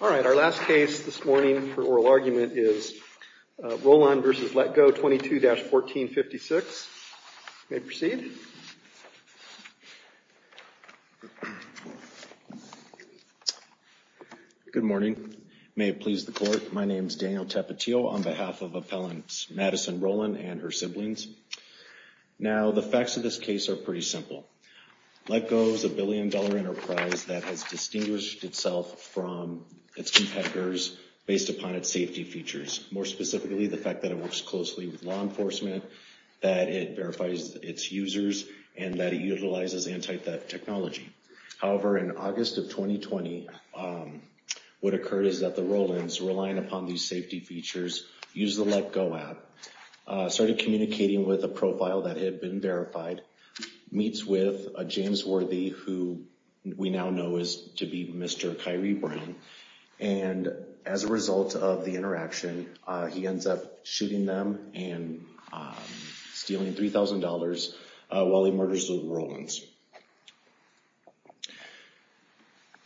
All right, our last case this morning for oral argument is Roland v. Letgo 22-1456. You may proceed. Good morning. May it please the Court, my name is Daniel Tepetillo on behalf of Appellant Madison Roland and her siblings. Now, the facts of this case are pretty simple. Letgo is a billion-dollar enterprise that has distinguished itself from its competitors based upon its safety features, more specifically the fact that it works closely with law enforcement, that it verifies its users, and that it utilizes anti-theft technology. However, in August of 2020, what occurred is that the Rolands, relying upon these safety features, used the Letgo app, started communicating with a profile that had been verified, meets with a James Worthy, who we now know is to be Mr. Kyrie Brown, and as a result of the interaction, he ends up shooting them and stealing $3,000 while he murders the Rolands.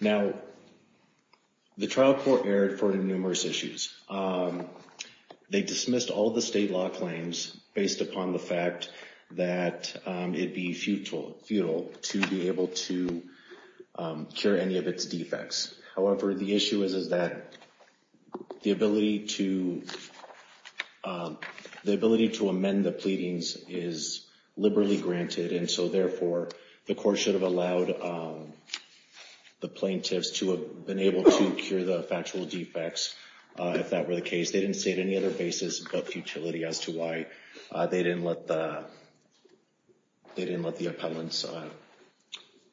Now, the trial court erred for numerous issues. They dismissed all the state law claims based upon the fact that it would be futile to be able to cure any of its defects. However, the issue is that the ability to amend the pleadings is liberally granted, and so therefore, the court should have allowed the plaintiffs to have been able to cure the factual defects, if that were the case. They didn't state any other basis of futility as to why they didn't let the appellants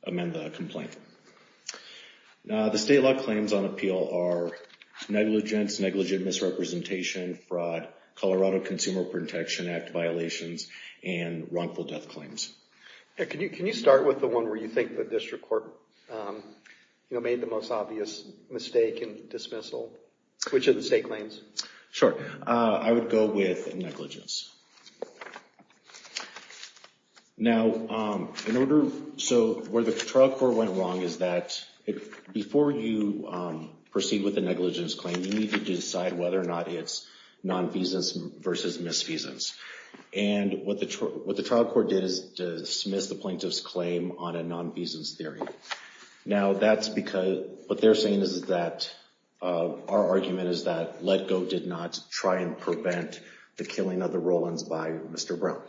amend the complaint. Now, the state law claims on appeal are negligence, negligent misrepresentation, fraud, Colorado Consumer Protection Act violations, and wrongful death claims. Can you start with the one where you think the district court made the most obvious mistake in dismissal? Which of the state claims? Sure. I would go with negligence. Now, where the trial court went wrong is that before you proceed with a negligence claim, you need to decide whether or not it's nonfeasance versus misfeasance. And what the trial court did is dismiss the plaintiff's claim on a nonfeasance theory. Now, that's because what they're saying is that our argument is that Letgo did not try and prevent the killing of the Rollins by Mr. Brown.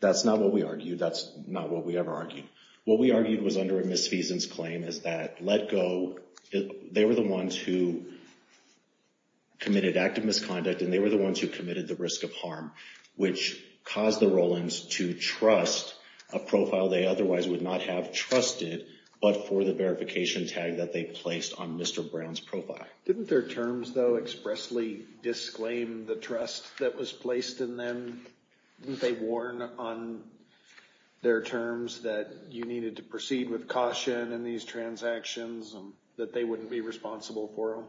That's not what we argued. That's not what we ever argued. What we argued was under a misfeasance claim is that Letgo, they were the ones who committed active misconduct, and they were the ones who committed the risk of harm, which caused the Rollins to trust a profile they otherwise would not have trusted, but for the verification tag that they placed on Mr. Brown's profile. Didn't their terms, though, expressly disclaim the trust that was placed in them? Didn't they warn on their terms that you needed to proceed with caution in these transactions, that they wouldn't be responsible for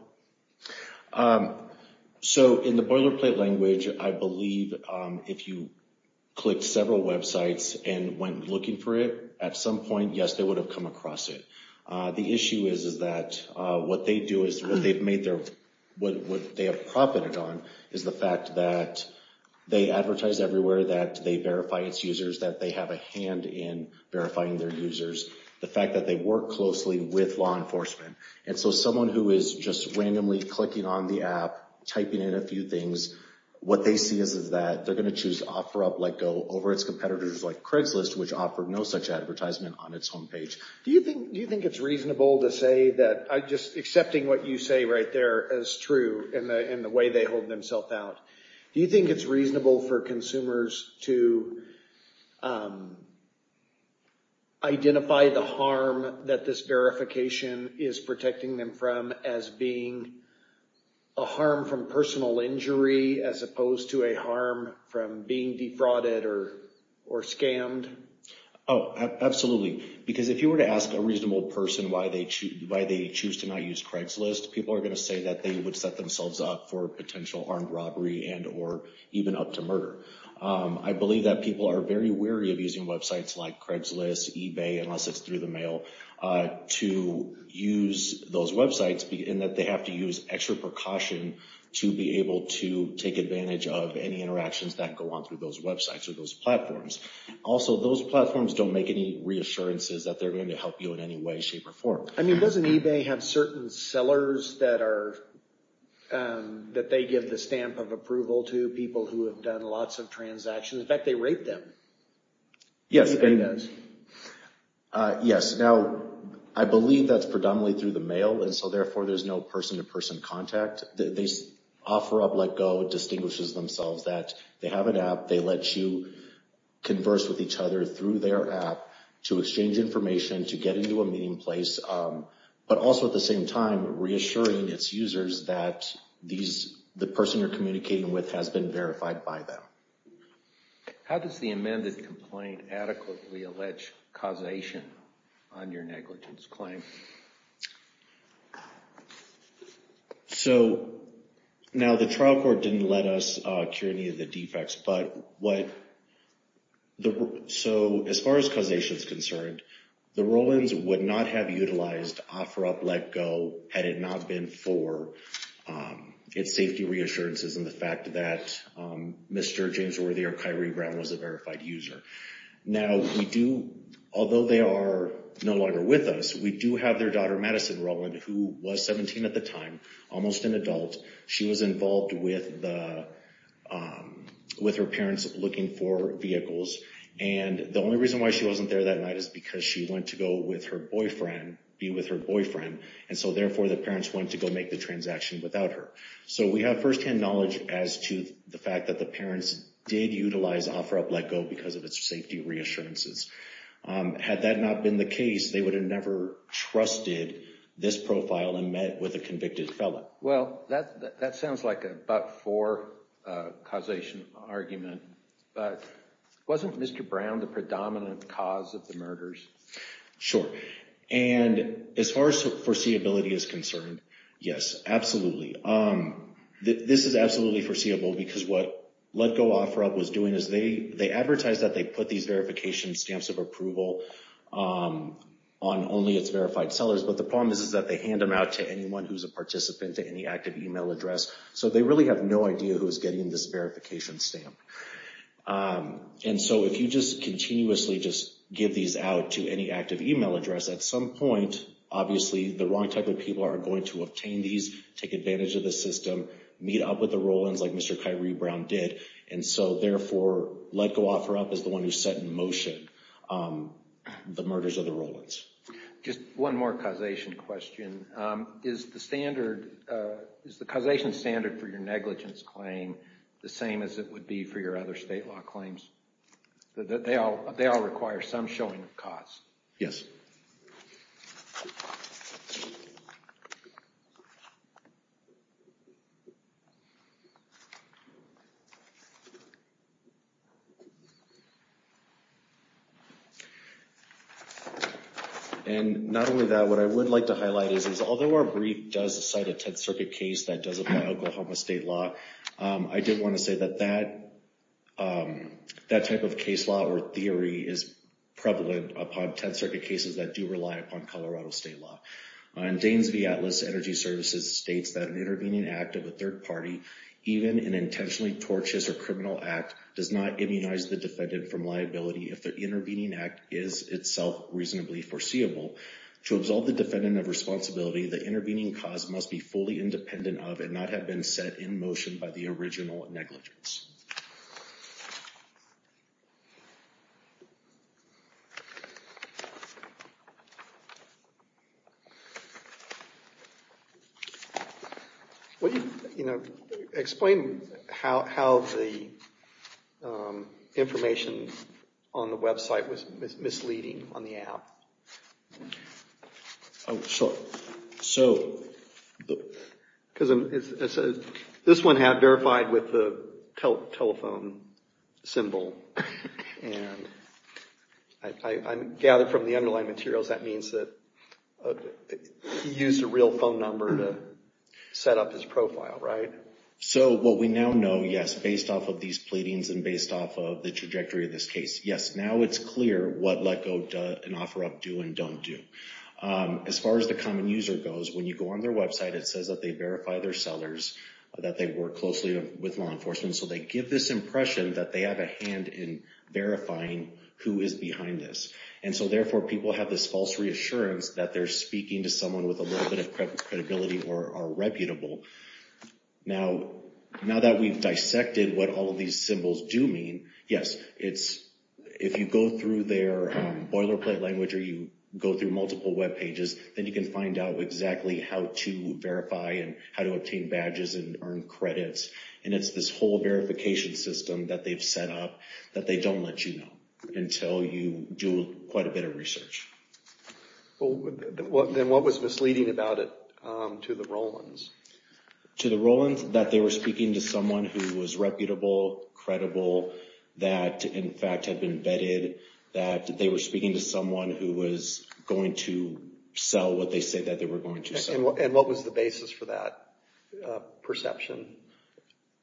them? So in the boilerplate language, I believe if you clicked several websites and went looking for it, at some point, yes, they would have come across it. The issue is that what they have profited on is the fact that they advertise everywhere that they verify its users, that they have a hand in verifying their users, the fact that they work closely with law enforcement. And so someone who is just randomly clicking on the app, typing in a few things, what they see is that they're going to choose to offer up Letgo over its competitors like Craigslist, which offered no such advertisement on its home page. Do you think it's reasonable to say that just accepting what you say right there is true in the way they hold themselves out? Do you think it's reasonable for consumers to identify the harm that this verification is protecting them from as being a harm from personal injury as opposed to a harm from being defrauded or scammed? Oh, absolutely. Because if you were to ask a reasonable person why they choose to not use Craigslist, people are going to say that they would set themselves up for potential armed robbery and or even up to murder. I believe that people are very wary of using websites like Craigslist, eBay, unless it's through the mail, to use those websites in that they have to use extra precaution to be able to take advantage of any interactions that go on through those websites or those platforms. Also, those platforms don't make any reassurances that they're going to help you in any way, shape, or form. I mean, doesn't eBay have certain sellers that they give the stamp of approval to people who have done lots of transactions? In fact, they rape them. Yes. eBay does. Yes. Now, I believe that's predominantly through the mail, and so therefore there's no person-to-person contact. They offer up, let go, distinguishes themselves that they have an app, they let you converse with each other through their app to exchange information, to get into a meeting place, but also at the same time, reassuring its users that the person you're communicating with has been verified by them. How does the amended complaint adequately allege causation on your negligence claim? So, now the trial court didn't let us cure any of the defects, but as far as causation is concerned, the Rolands would not have utilized offer up, let go, had it not been for its safety reassurances and the fact that Mr. James Worthy or Kyrie Brown was a verified user. Now, we do, although they are no longer with us, we do have their daughter Madison Roland, who was 17 at the time, almost an adult. She was involved with her parents looking for vehicles, and the only reason why she wasn't there that night is because she went to go with her boyfriend, be with her boyfriend, and so therefore the parents went to go make the transaction without her. So we have firsthand knowledge as to the fact that the parents did utilize offer up, let go because of its safety reassurances. Had that not been the case, they would have never trusted this profile and met with a convicted felon. Well, that sounds like a but-for causation argument, but wasn't Mr. Brown the predominant cause of the murders? Sure, and as far as foreseeability is concerned, yes, absolutely. This is absolutely foreseeable because what let go offer up was doing is they advertised that they put these verification stamps of approval on only its verified sellers, but the problem is that they hand them out to anyone who's a participant, to any active email address, so they really have no idea who's getting this verification stamp. And so if you just continuously just give these out to any active email address, at some point, obviously, the wrong type of people are going to obtain these, take advantage of the system, meet up with the Rolands like Mr. Kyrie Brown did, and so therefore let go offer up is the one who set in motion the murders of the Rolands. Just one more causation question. Is the causation standard for your negligence claim the same as it would be for your other state law claims? They all require some showing of cause. Yes. And not only that, what I would like to highlight is although our brief does cite a 10th Circuit case that does apply Oklahoma state law, I did want to say that that type of case law or theory is prevalent upon 10th Circuit cases that do rely upon Colorado state law. Danes v. Atlas Energy Services states that an intervening act of a third party, even an intentionally tortious or criminal act, does not immunize the defendant from liability if the intervening act is itself reasonably foreseeable. To absolve the defendant of responsibility, the intervening cause must be fully independent of and not have been set in motion by the original negligence. Would you explain how the information on the website was misleading on the app? This one had verified with the telephone symbol, and I gather from the underlying materials that means that he used a real phone number to set up his profile, right? So what we now know, yes, based off of these pleadings and based off of the trajectory of this case, yes, now it's clear what let go and offer up do and don't do. As far as the common user goes, when you go on their website, it says that they verify their sellers, that they work closely with law enforcement, so they give this impression that they have a hand in verifying who is behind this. And so therefore, people have this false reassurance that they're speaking to someone with a little bit of credibility or are reputable. Now that we've dissected what all of these symbols do mean, yes, if you go through their boilerplate language or you go through multiple webpages, then you can find out exactly how to verify and how to obtain badges and earn credits. And it's this whole verification system that they've set up that they don't let you know until you do quite a bit of research. Well, then what was misleading about it to the Rolands? To the Rolands, that they were speaking to someone who was reputable, credible, that in fact had been vetted, that they were speaking to someone who was going to sell what they say that they were going to sell. And what was the basis for that perception?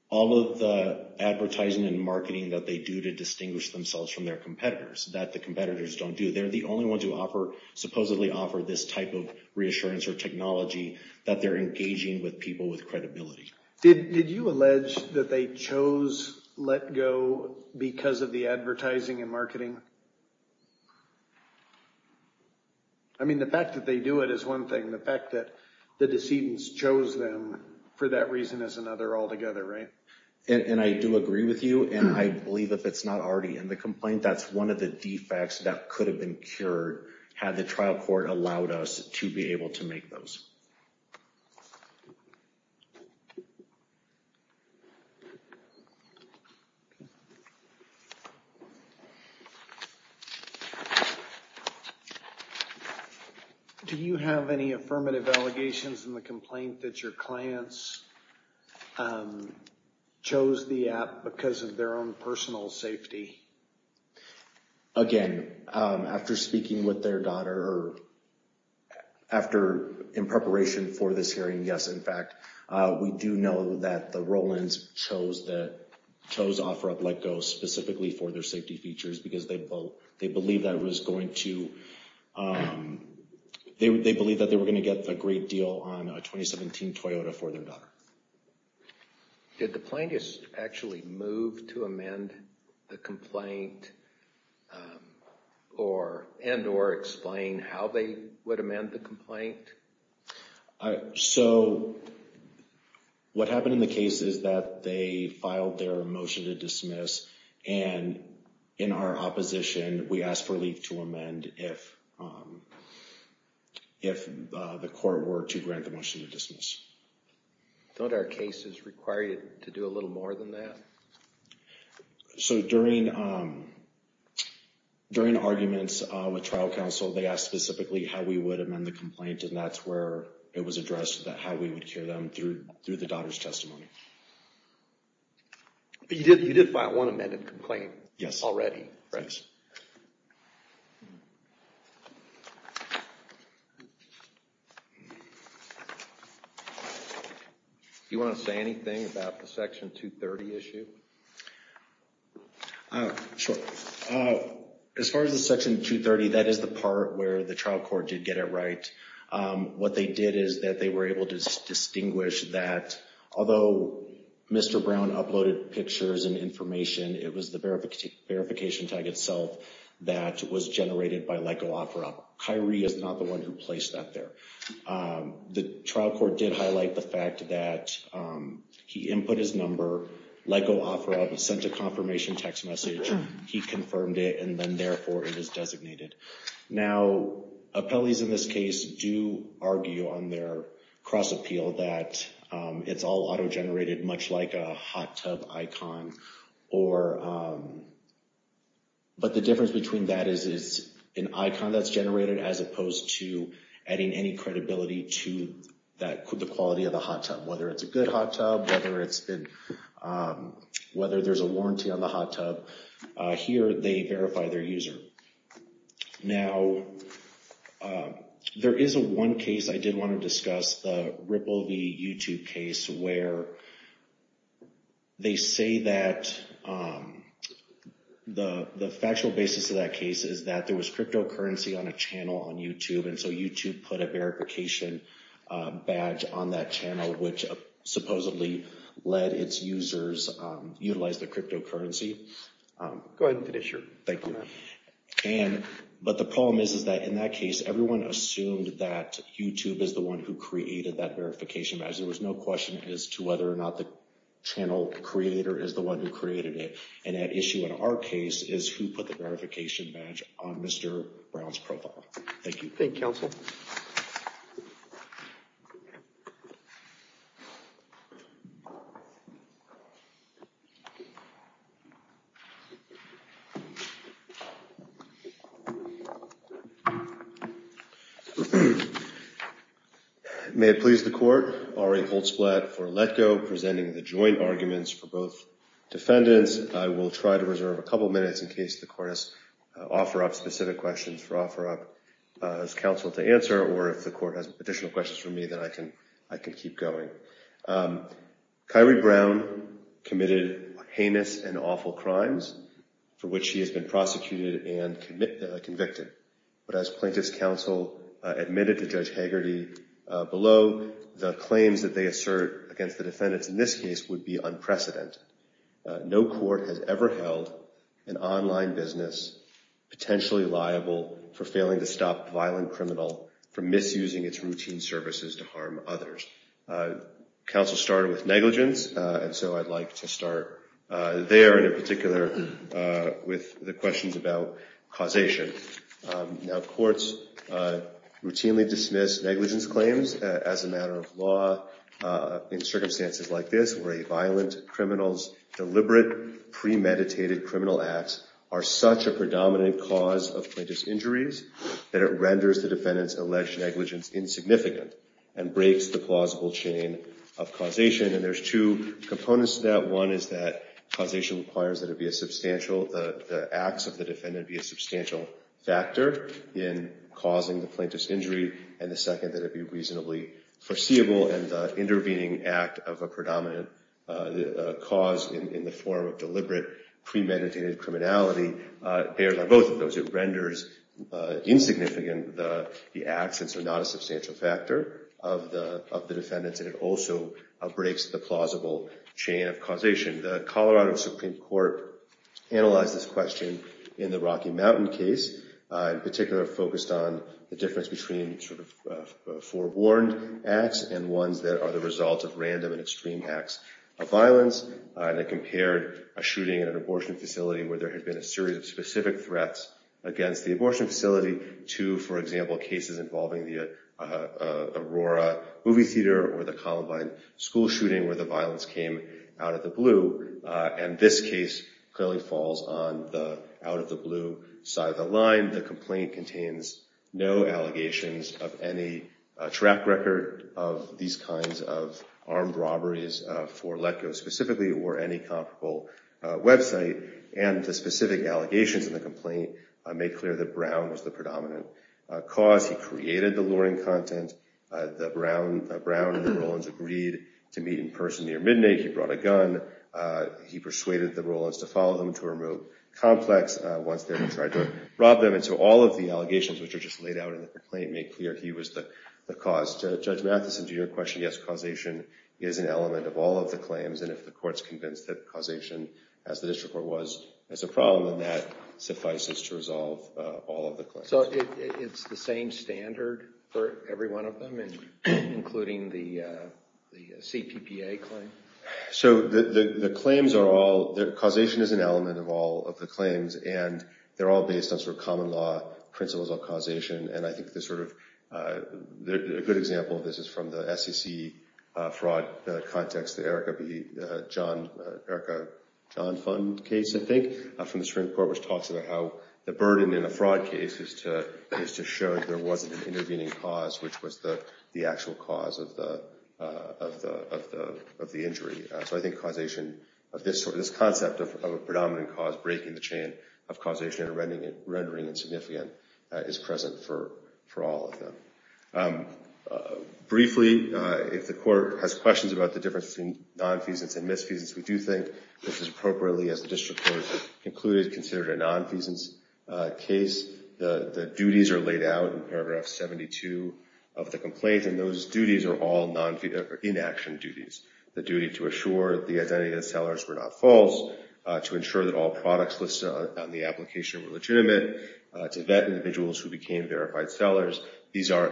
All of the advertising and marketing that they do to distinguish themselves from their competitors, that the competitors don't do. They're the only ones who supposedly offer this type of reassurance or technology that they're engaging with people with credibility. Did you allege that they chose LetGo because of the advertising and marketing? I mean, the fact that they do it is one thing. The fact that the decedents chose them for that reason is another altogether, right? And I do agree with you. And I believe if it's not already in the complaint, that's one of the defects that could have been cured had the trial court allowed us to be able to make those. Do you have any affirmative allegations in the complaint that your clients chose the app because of their own personal safety? Again, after speaking with their daughter, after in preparation for this hearing, yes, in fact, we do know that the Rolands chose to offer up LetGo specifically for their safety features because they believed that it was going to, they believed that they were going to get a great deal on a 2017 Toyota for their daughter. Did the plaintiffs actually move to amend the complaint and or explain how they would amend the complaint? So what happened in the case is that they filed their motion to dismiss, and in our opposition, we asked for leave to amend if the court were to grant the motion to dismiss. Don't our cases require you to do a little more than that? So during arguments with trial counsel, they asked specifically how we would amend the complaint, and that's where it was addressed, how we would cure them through the daughter's testimony. But you did file one amended complaint already, right? Yes. Do you want to say anything about the Section 230 issue? Sure. As far as the Section 230, that is the part where the trial court did get it right. What they did is that they were able to distinguish that although Mr. Brown uploaded pictures and information, it was the verification tag itself that was generated by LetGo OfferUp. Kyrie is not the one who placed that there. The trial court did highlight the fact that he input his number, LetGo OfferUp sent a confirmation text message, he confirmed it, and then therefore it is designated. Now, appellees in this case do argue on their cross-appeal that it's all auto-generated much like a hot tub icon, but the difference between that is it's an icon that's generated as opposed to adding any credibility to the quality of the hot tub, whether it's a good hot tub, whether there's a warranty on the hot tub. Here, they verify their user. Now, there is one case I did want to discuss, the Ripple v. YouTube case, where they say that the factual basis of that case is that there was cryptocurrency on a channel on YouTube, and so YouTube put a verification badge on that channel, which supposedly let its users utilize the cryptocurrency. Go ahead and finish your comment. Thank you. But the problem is that in that case, everyone assumed that YouTube is the one who created that verification badge. There was no question as to whether or not the channel creator is the one who created it, and at issue in our case is who put the verification badge on Mr. Brown's profile. Thank you. Thank you, counsel. May it please the court. Ari Holzblatt for LetGo, presenting the joint arguments for both defendants. I will try to reserve a couple minutes in case the court has specific questions for offer up as council to answer or if the court has additional questions for me, then I can keep going. Kyrie Brown committed heinous and awful crimes for which she has been prosecuted and convicted. But as plaintiff's counsel admitted to Judge Hagerty below, the claims that they assert against the defendants in this case would be unprecedented. No court has ever held an online business potentially liable for failing to stop a violent criminal from misusing its routine services to harm others. Counsel started with negligence, and so I'd like to start there and in particular with the questions about causation. Now courts routinely dismiss negligence claims as a matter of law in circumstances like this where a violent criminal's deliberate premeditated criminal acts are such a predominant cause of plaintiff's injuries that it renders the defendant's alleged negligence insignificant and breaks the plausible chain of causation. And there's two components to that. One is that causation requires that the acts of the defendant be a substantial factor in causing the plaintiff's injury. And the second, that it be reasonably foreseeable and the intervening act of a predominant cause in the form of deliberate premeditated criminality bears on both of those. It renders insignificant the acts and so not a substantial factor of the defendants, and it also breaks the plausible chain of causation. The Colorado Supreme Court analyzed this question in the Rocky Mountain case, in particular focused on the difference between sort of forewarned acts and ones that are the result of random and extreme acts of violence. And it compared a shooting at an abortion facility where there had been a series of specific threats against the abortion facility to, for example, cases involving the Aurora movie theater or the Columbine school shooting where the violence came out of the blue. And the specific allegations in the complaint make clear that Brown was the predominant cause. He created the luring content. Brown and the Rolands agreed to meet in person near midnight. He brought a gun. He persuaded the Rolands to follow them to a remote complex. Once there, he tried to rob them. And so all of the allegations, which are just laid out in the complaint, make clear he was the cause. To Judge Mathison, to your question, yes, causation is an element of all of the claims. And if the court's convinced that causation, as the district court was, is a problem, then that suffices to resolve all of the claims. So it's the same standard for every one of them, including the CPPA claim? So the claims are all—causation is an element of all of the claims, and they're all based on sort of common law principles of causation. And I think this sort of—a good example of this is from the SEC fraud context, the Erica B. John—Erica John Fund case, I think, from the Supreme Court, which talks about how the burden in a fraud case is to show there wasn't an intervening cause, which was the actual cause of the injury. So I think causation—this concept of a predominant cause breaking the chain of causation and rendering it significant is present for all of them. Briefly, if the court has questions about the difference between nonfeasance and misfeasance, we do think this is appropriately, as the district court concluded, considered a nonfeasance case. The duties are laid out in paragraph 72 of the complaint, and those duties are all inaction duties. The duty to assure the identity of the sellers were not false, to ensure that all products listed on the application were legitimate, to vet individuals who became verified sellers. These are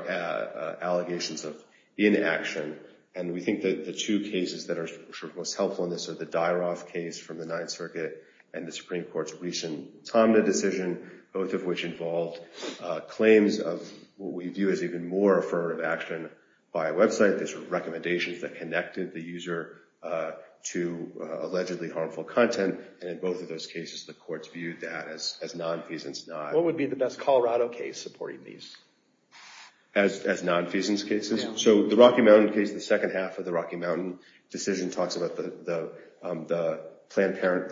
allegations of inaction. And we think that the two cases that are most helpful in this are the Dyaroff case from the Ninth Circuit and the Supreme Court's recent Tomna decision, both of which involved claims of what we view as even more affirmative action by a website. These were recommendations that connected the user to allegedly harmful content. And in both of those cases, the courts viewed that as nonfeasance, not— What would be the best Colorado case supporting these? As nonfeasance cases? Yeah. So the Rocky Mountain case, the second half of the Rocky Mountain decision, talks about the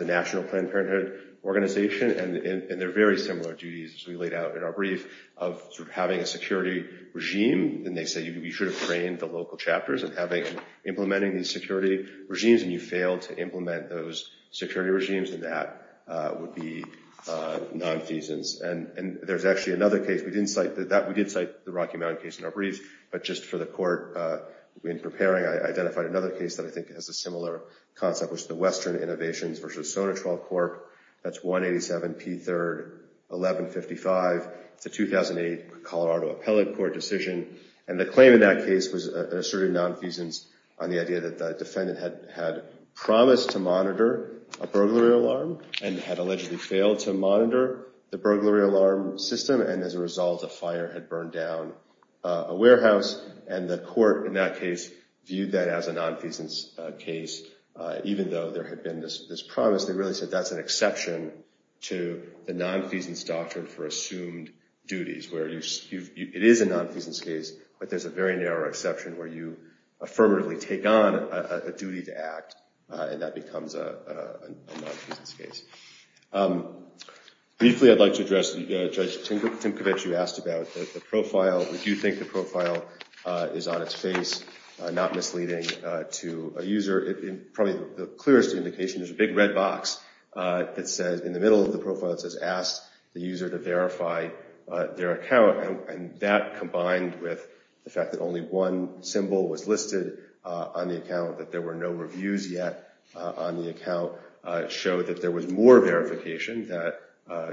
National Planned Parenthood Organization, and they're very similar duties, as we laid out in our brief, of having a security regime. And they say you should have trained the local chapters of implementing these security regimes, and you failed to implement those security regimes, and that would be nonfeasance. And there's actually another case. We did cite the Rocky Mountain case in our brief, but just for the court, in preparing, I identified another case that I think has a similar concept, which is the Western Innovations v. Sona 12 Corp. That's 187P3-1155. It's a 2008 Colorado appellate court decision. And the claim in that case was an asserted nonfeasance on the idea that the defendant had promised to monitor a burglary alarm and had allegedly failed to monitor the burglary alarm system, and as a result, a fire had burned down a warehouse. And the court in that case viewed that as a nonfeasance case, even though there had been this promise. They really said that's an exception to the nonfeasance doctrine for assumed duties, where it is a nonfeasance case, but there's a very narrow exception where you affirmatively take on a duty to act, and that becomes a nonfeasance case. Briefly, I'd like to address Judge Tinkovich. You asked about the profile. We do think the profile is on its face, not misleading to a user. Probably the clearest indication is a big red box that says, in the middle of the profile, it says, ask the user to verify their account. And that, combined with the fact that only one symbol was listed on the account, that there were no reviews yet on the account, showed that there was more verification that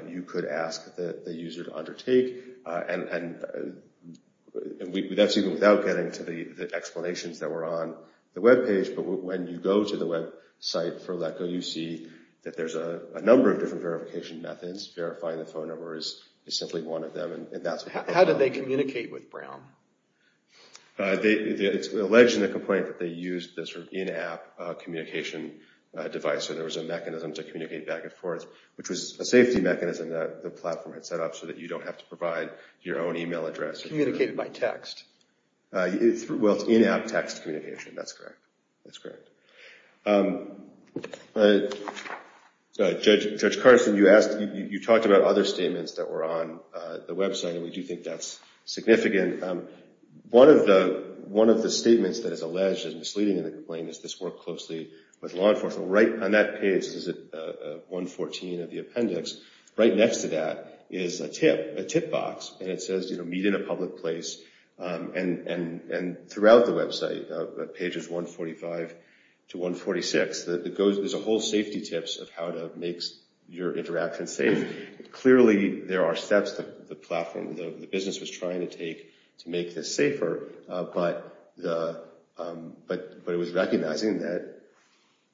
you could ask the user to undertake. And that's even without getting to the explanations that were on the Web page. But when you go to the Web site for LetGo, you see that there's a number of different verification methods. Verifying the phone number is simply one of them. How did they communicate with Brown? It's alleged in the complaint that they used this sort of in-app communication device, so there was a mechanism to communicate back and forth, which was a safety mechanism that the platform had set up so that you don't have to provide your own email address. Communicated by text. Well, it's in-app text communication. That's correct. That's correct. Judge Carson, you talked about other statements that were on the Web site, and we do think that's significant. One of the statements that is alleged as misleading in the complaint is this work closely with law enforcement. Right on that page, this is 114 of the appendix. Right next to that is a tip box, and it says, you know, meet in a public place. And throughout the Web site, pages 145 to 146, there's a whole safety tips of how to make your interactions safe. Clearly, there are steps that the platform, the business was trying to take to make this safer, but it was recognizing that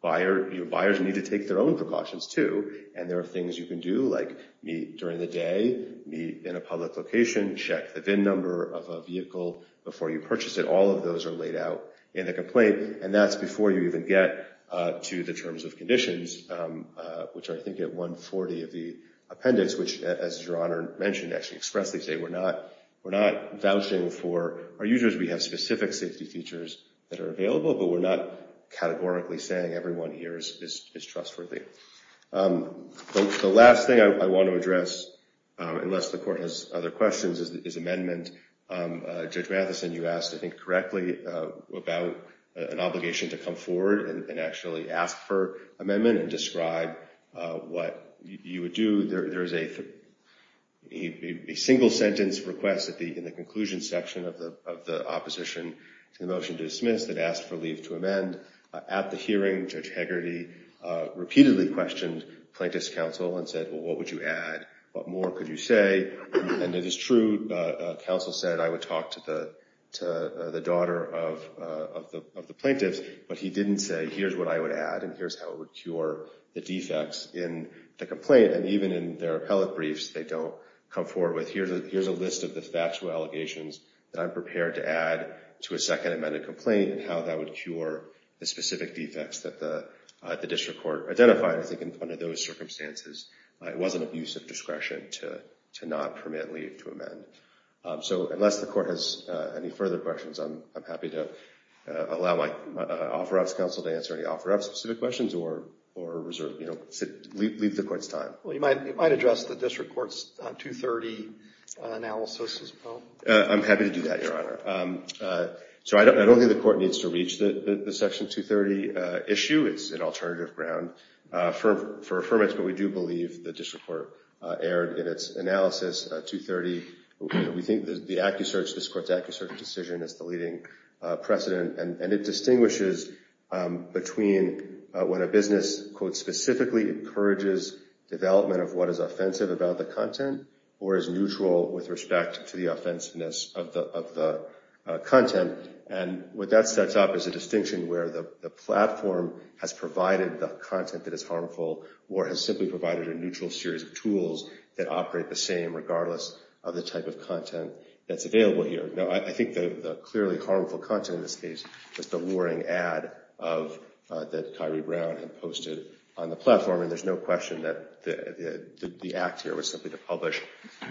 buyers need to take their own precautions, too, and there are things you can do, like meet during the day, meet in a public location, check the VIN number of a vehicle before you purchase it. All of those are laid out in the complaint, and that's before you even get to the terms of conditions, which are, I think, at 140 of the appendix, which, as Your Honor mentioned, actually expressly say, we're not vouching for our users. We have specific safety features that are available, but we're not categorically saying everyone here is trustworthy. The last thing I want to address, unless the Court has other questions, is amendment. Judge Matheson, you asked, I think, correctly about an obligation to come forward and actually ask for amendment and describe what you would do. There is a single-sentence request in the conclusion section of the opposition to the motion to dismiss that asked for leave to amend. At the hearing, Judge Hegarty repeatedly questioned plaintiff's counsel and said, well, what would you add? What more could you say? And it is true counsel said, I would talk to the daughter of the plaintiff, but he didn't say, here's what I would add, and here's how it would cure the defects in the complaint. And even in their appellate briefs, they don't come forward with, here's a list of the factual allegations that I'm prepared to add to a second amended complaint and how that would cure the specific defects that the district court identified. I think under those circumstances, it was an abuse of discretion to not permit leave to amend. So unless the Court has any further questions, I'm happy to allow my offer of counsel to answer any offer of specific questions or reserve, you know, leave the Court's time. Well, you might address the district court's 230 analysis as well. I'm happy to do that, Your Honor. So I don't think the Court needs to reach the section 230 issue. It's an alternative ground for affirmance, but we do believe the district court erred in its analysis. 230, we think the ACCU-SEARCH, this Court's ACCU-SEARCH decision is the leading precedent, and it distinguishes between when a business, quote, specifically encourages development of what is offensive about the content or is neutral with respect to the offensiveness of the content. And what that sets up is a distinction where the platform has provided the content that is harmful or has simply provided a neutral series of tools that operate the same, regardless of the type of content that's available here. I think the clearly harmful content in this case is the luring ad that Kyrie Brown had posted on the platform, and there's no question that the act here was simply to publish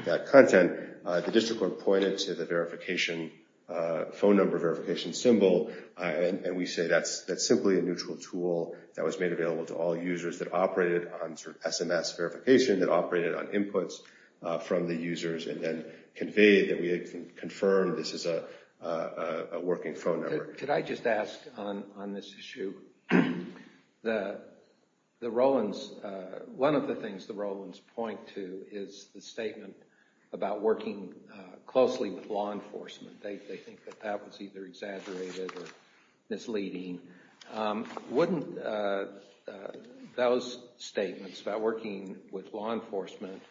that content. The district court pointed to the phone number verification symbol, and we say that's simply a neutral tool that was made available to all users that operated on SMS verification, that operated on inputs from the users, and then conveyed that we had confirmed this is a working phone number. Could I just ask on this issue? One of the things the Rolands point to is the statement about working closely with law enforcement. They think that that was either exaggerated or misleading. Wouldn't those statements about working with law enforcement,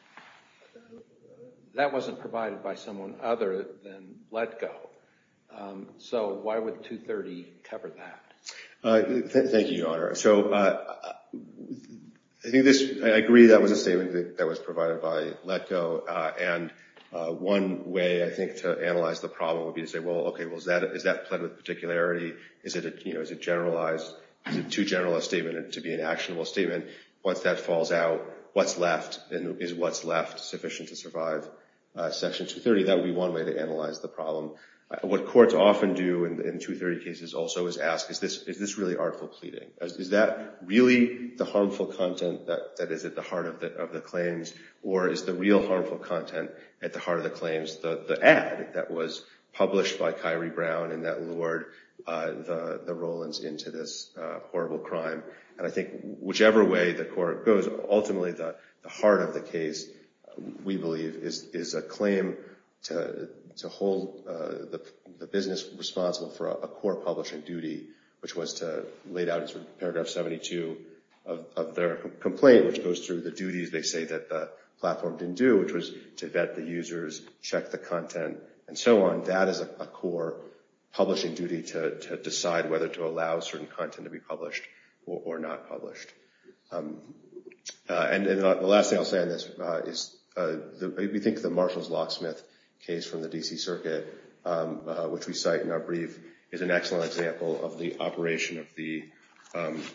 that wasn't provided by someone other than Letgo? So why would 230 cover that? Thank you, Your Honor. So I agree that was a statement that was provided by Letgo, and one way I think to analyze the problem would be to say, well, okay, well, is that pled with particularity? Is it too general a statement to be an actionable statement? Once that falls out, what's left, and is what's left sufficient to survive Section 230? That would be one way to analyze the problem. What courts often do in 230 cases also is ask, is this really artful pleading? Is that really the harmful content that is at the heart of the claims, or is the real harmful content at the heart of the claims, the ad that was published by Kyrie Brown and that lured the Rolands into this horrible crime? And I think whichever way the court goes, ultimately the heart of the case, we believe, is a claim to hold the business responsible for a court publishing duty, which was laid out in paragraph 72 of their complaint, which goes through the duties they say that the platform didn't do, which was to vet the users, check the content, and so on. That is a core publishing duty to decide whether to allow certain content to be published or not published. And the last thing I'll say on this is we think the Marshall's locksmith case from the D.C. Circuit, which we cite in our brief, is an excellent example of the operation of the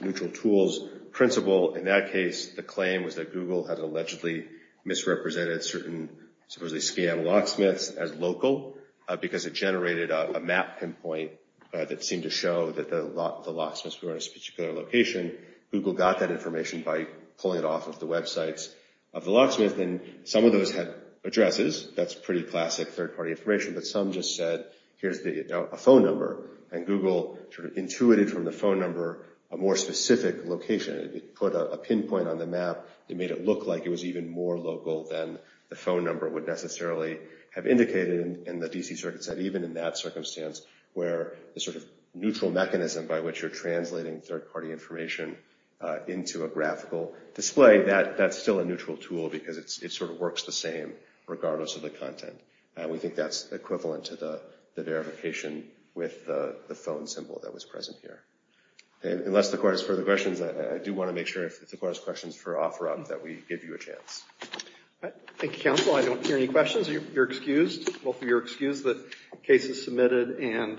neutral tools principle. In that case, the claim was that Google had allegedly misrepresented certain supposedly scam locksmiths as local because it generated a map pinpoint that seemed to show that the locksmiths were in a particular location. Google got that information by pulling it off of the websites of the locksmith, and some of those had addresses. That's pretty classic third-party information, but some just said, here's a phone number, and Google sort of intuited from the phone number a more specific location. It put a pinpoint on the map. It made it look like it was even more local than the phone number would necessarily have indicated in the D.C. Circuit. So even in that circumstance where the sort of neutral mechanism by which you're translating third-party information into a graphical display, that's still a neutral tool because it sort of works the same regardless of the content. We think that's equivalent to the verification with the phone symbol that was present here. Unless the court has further questions, I do want to make sure if the court has questions for Offrod that we give you a chance. Thank you, counsel. I don't hear any questions. You're excused. Both of you are excused. The case is submitted.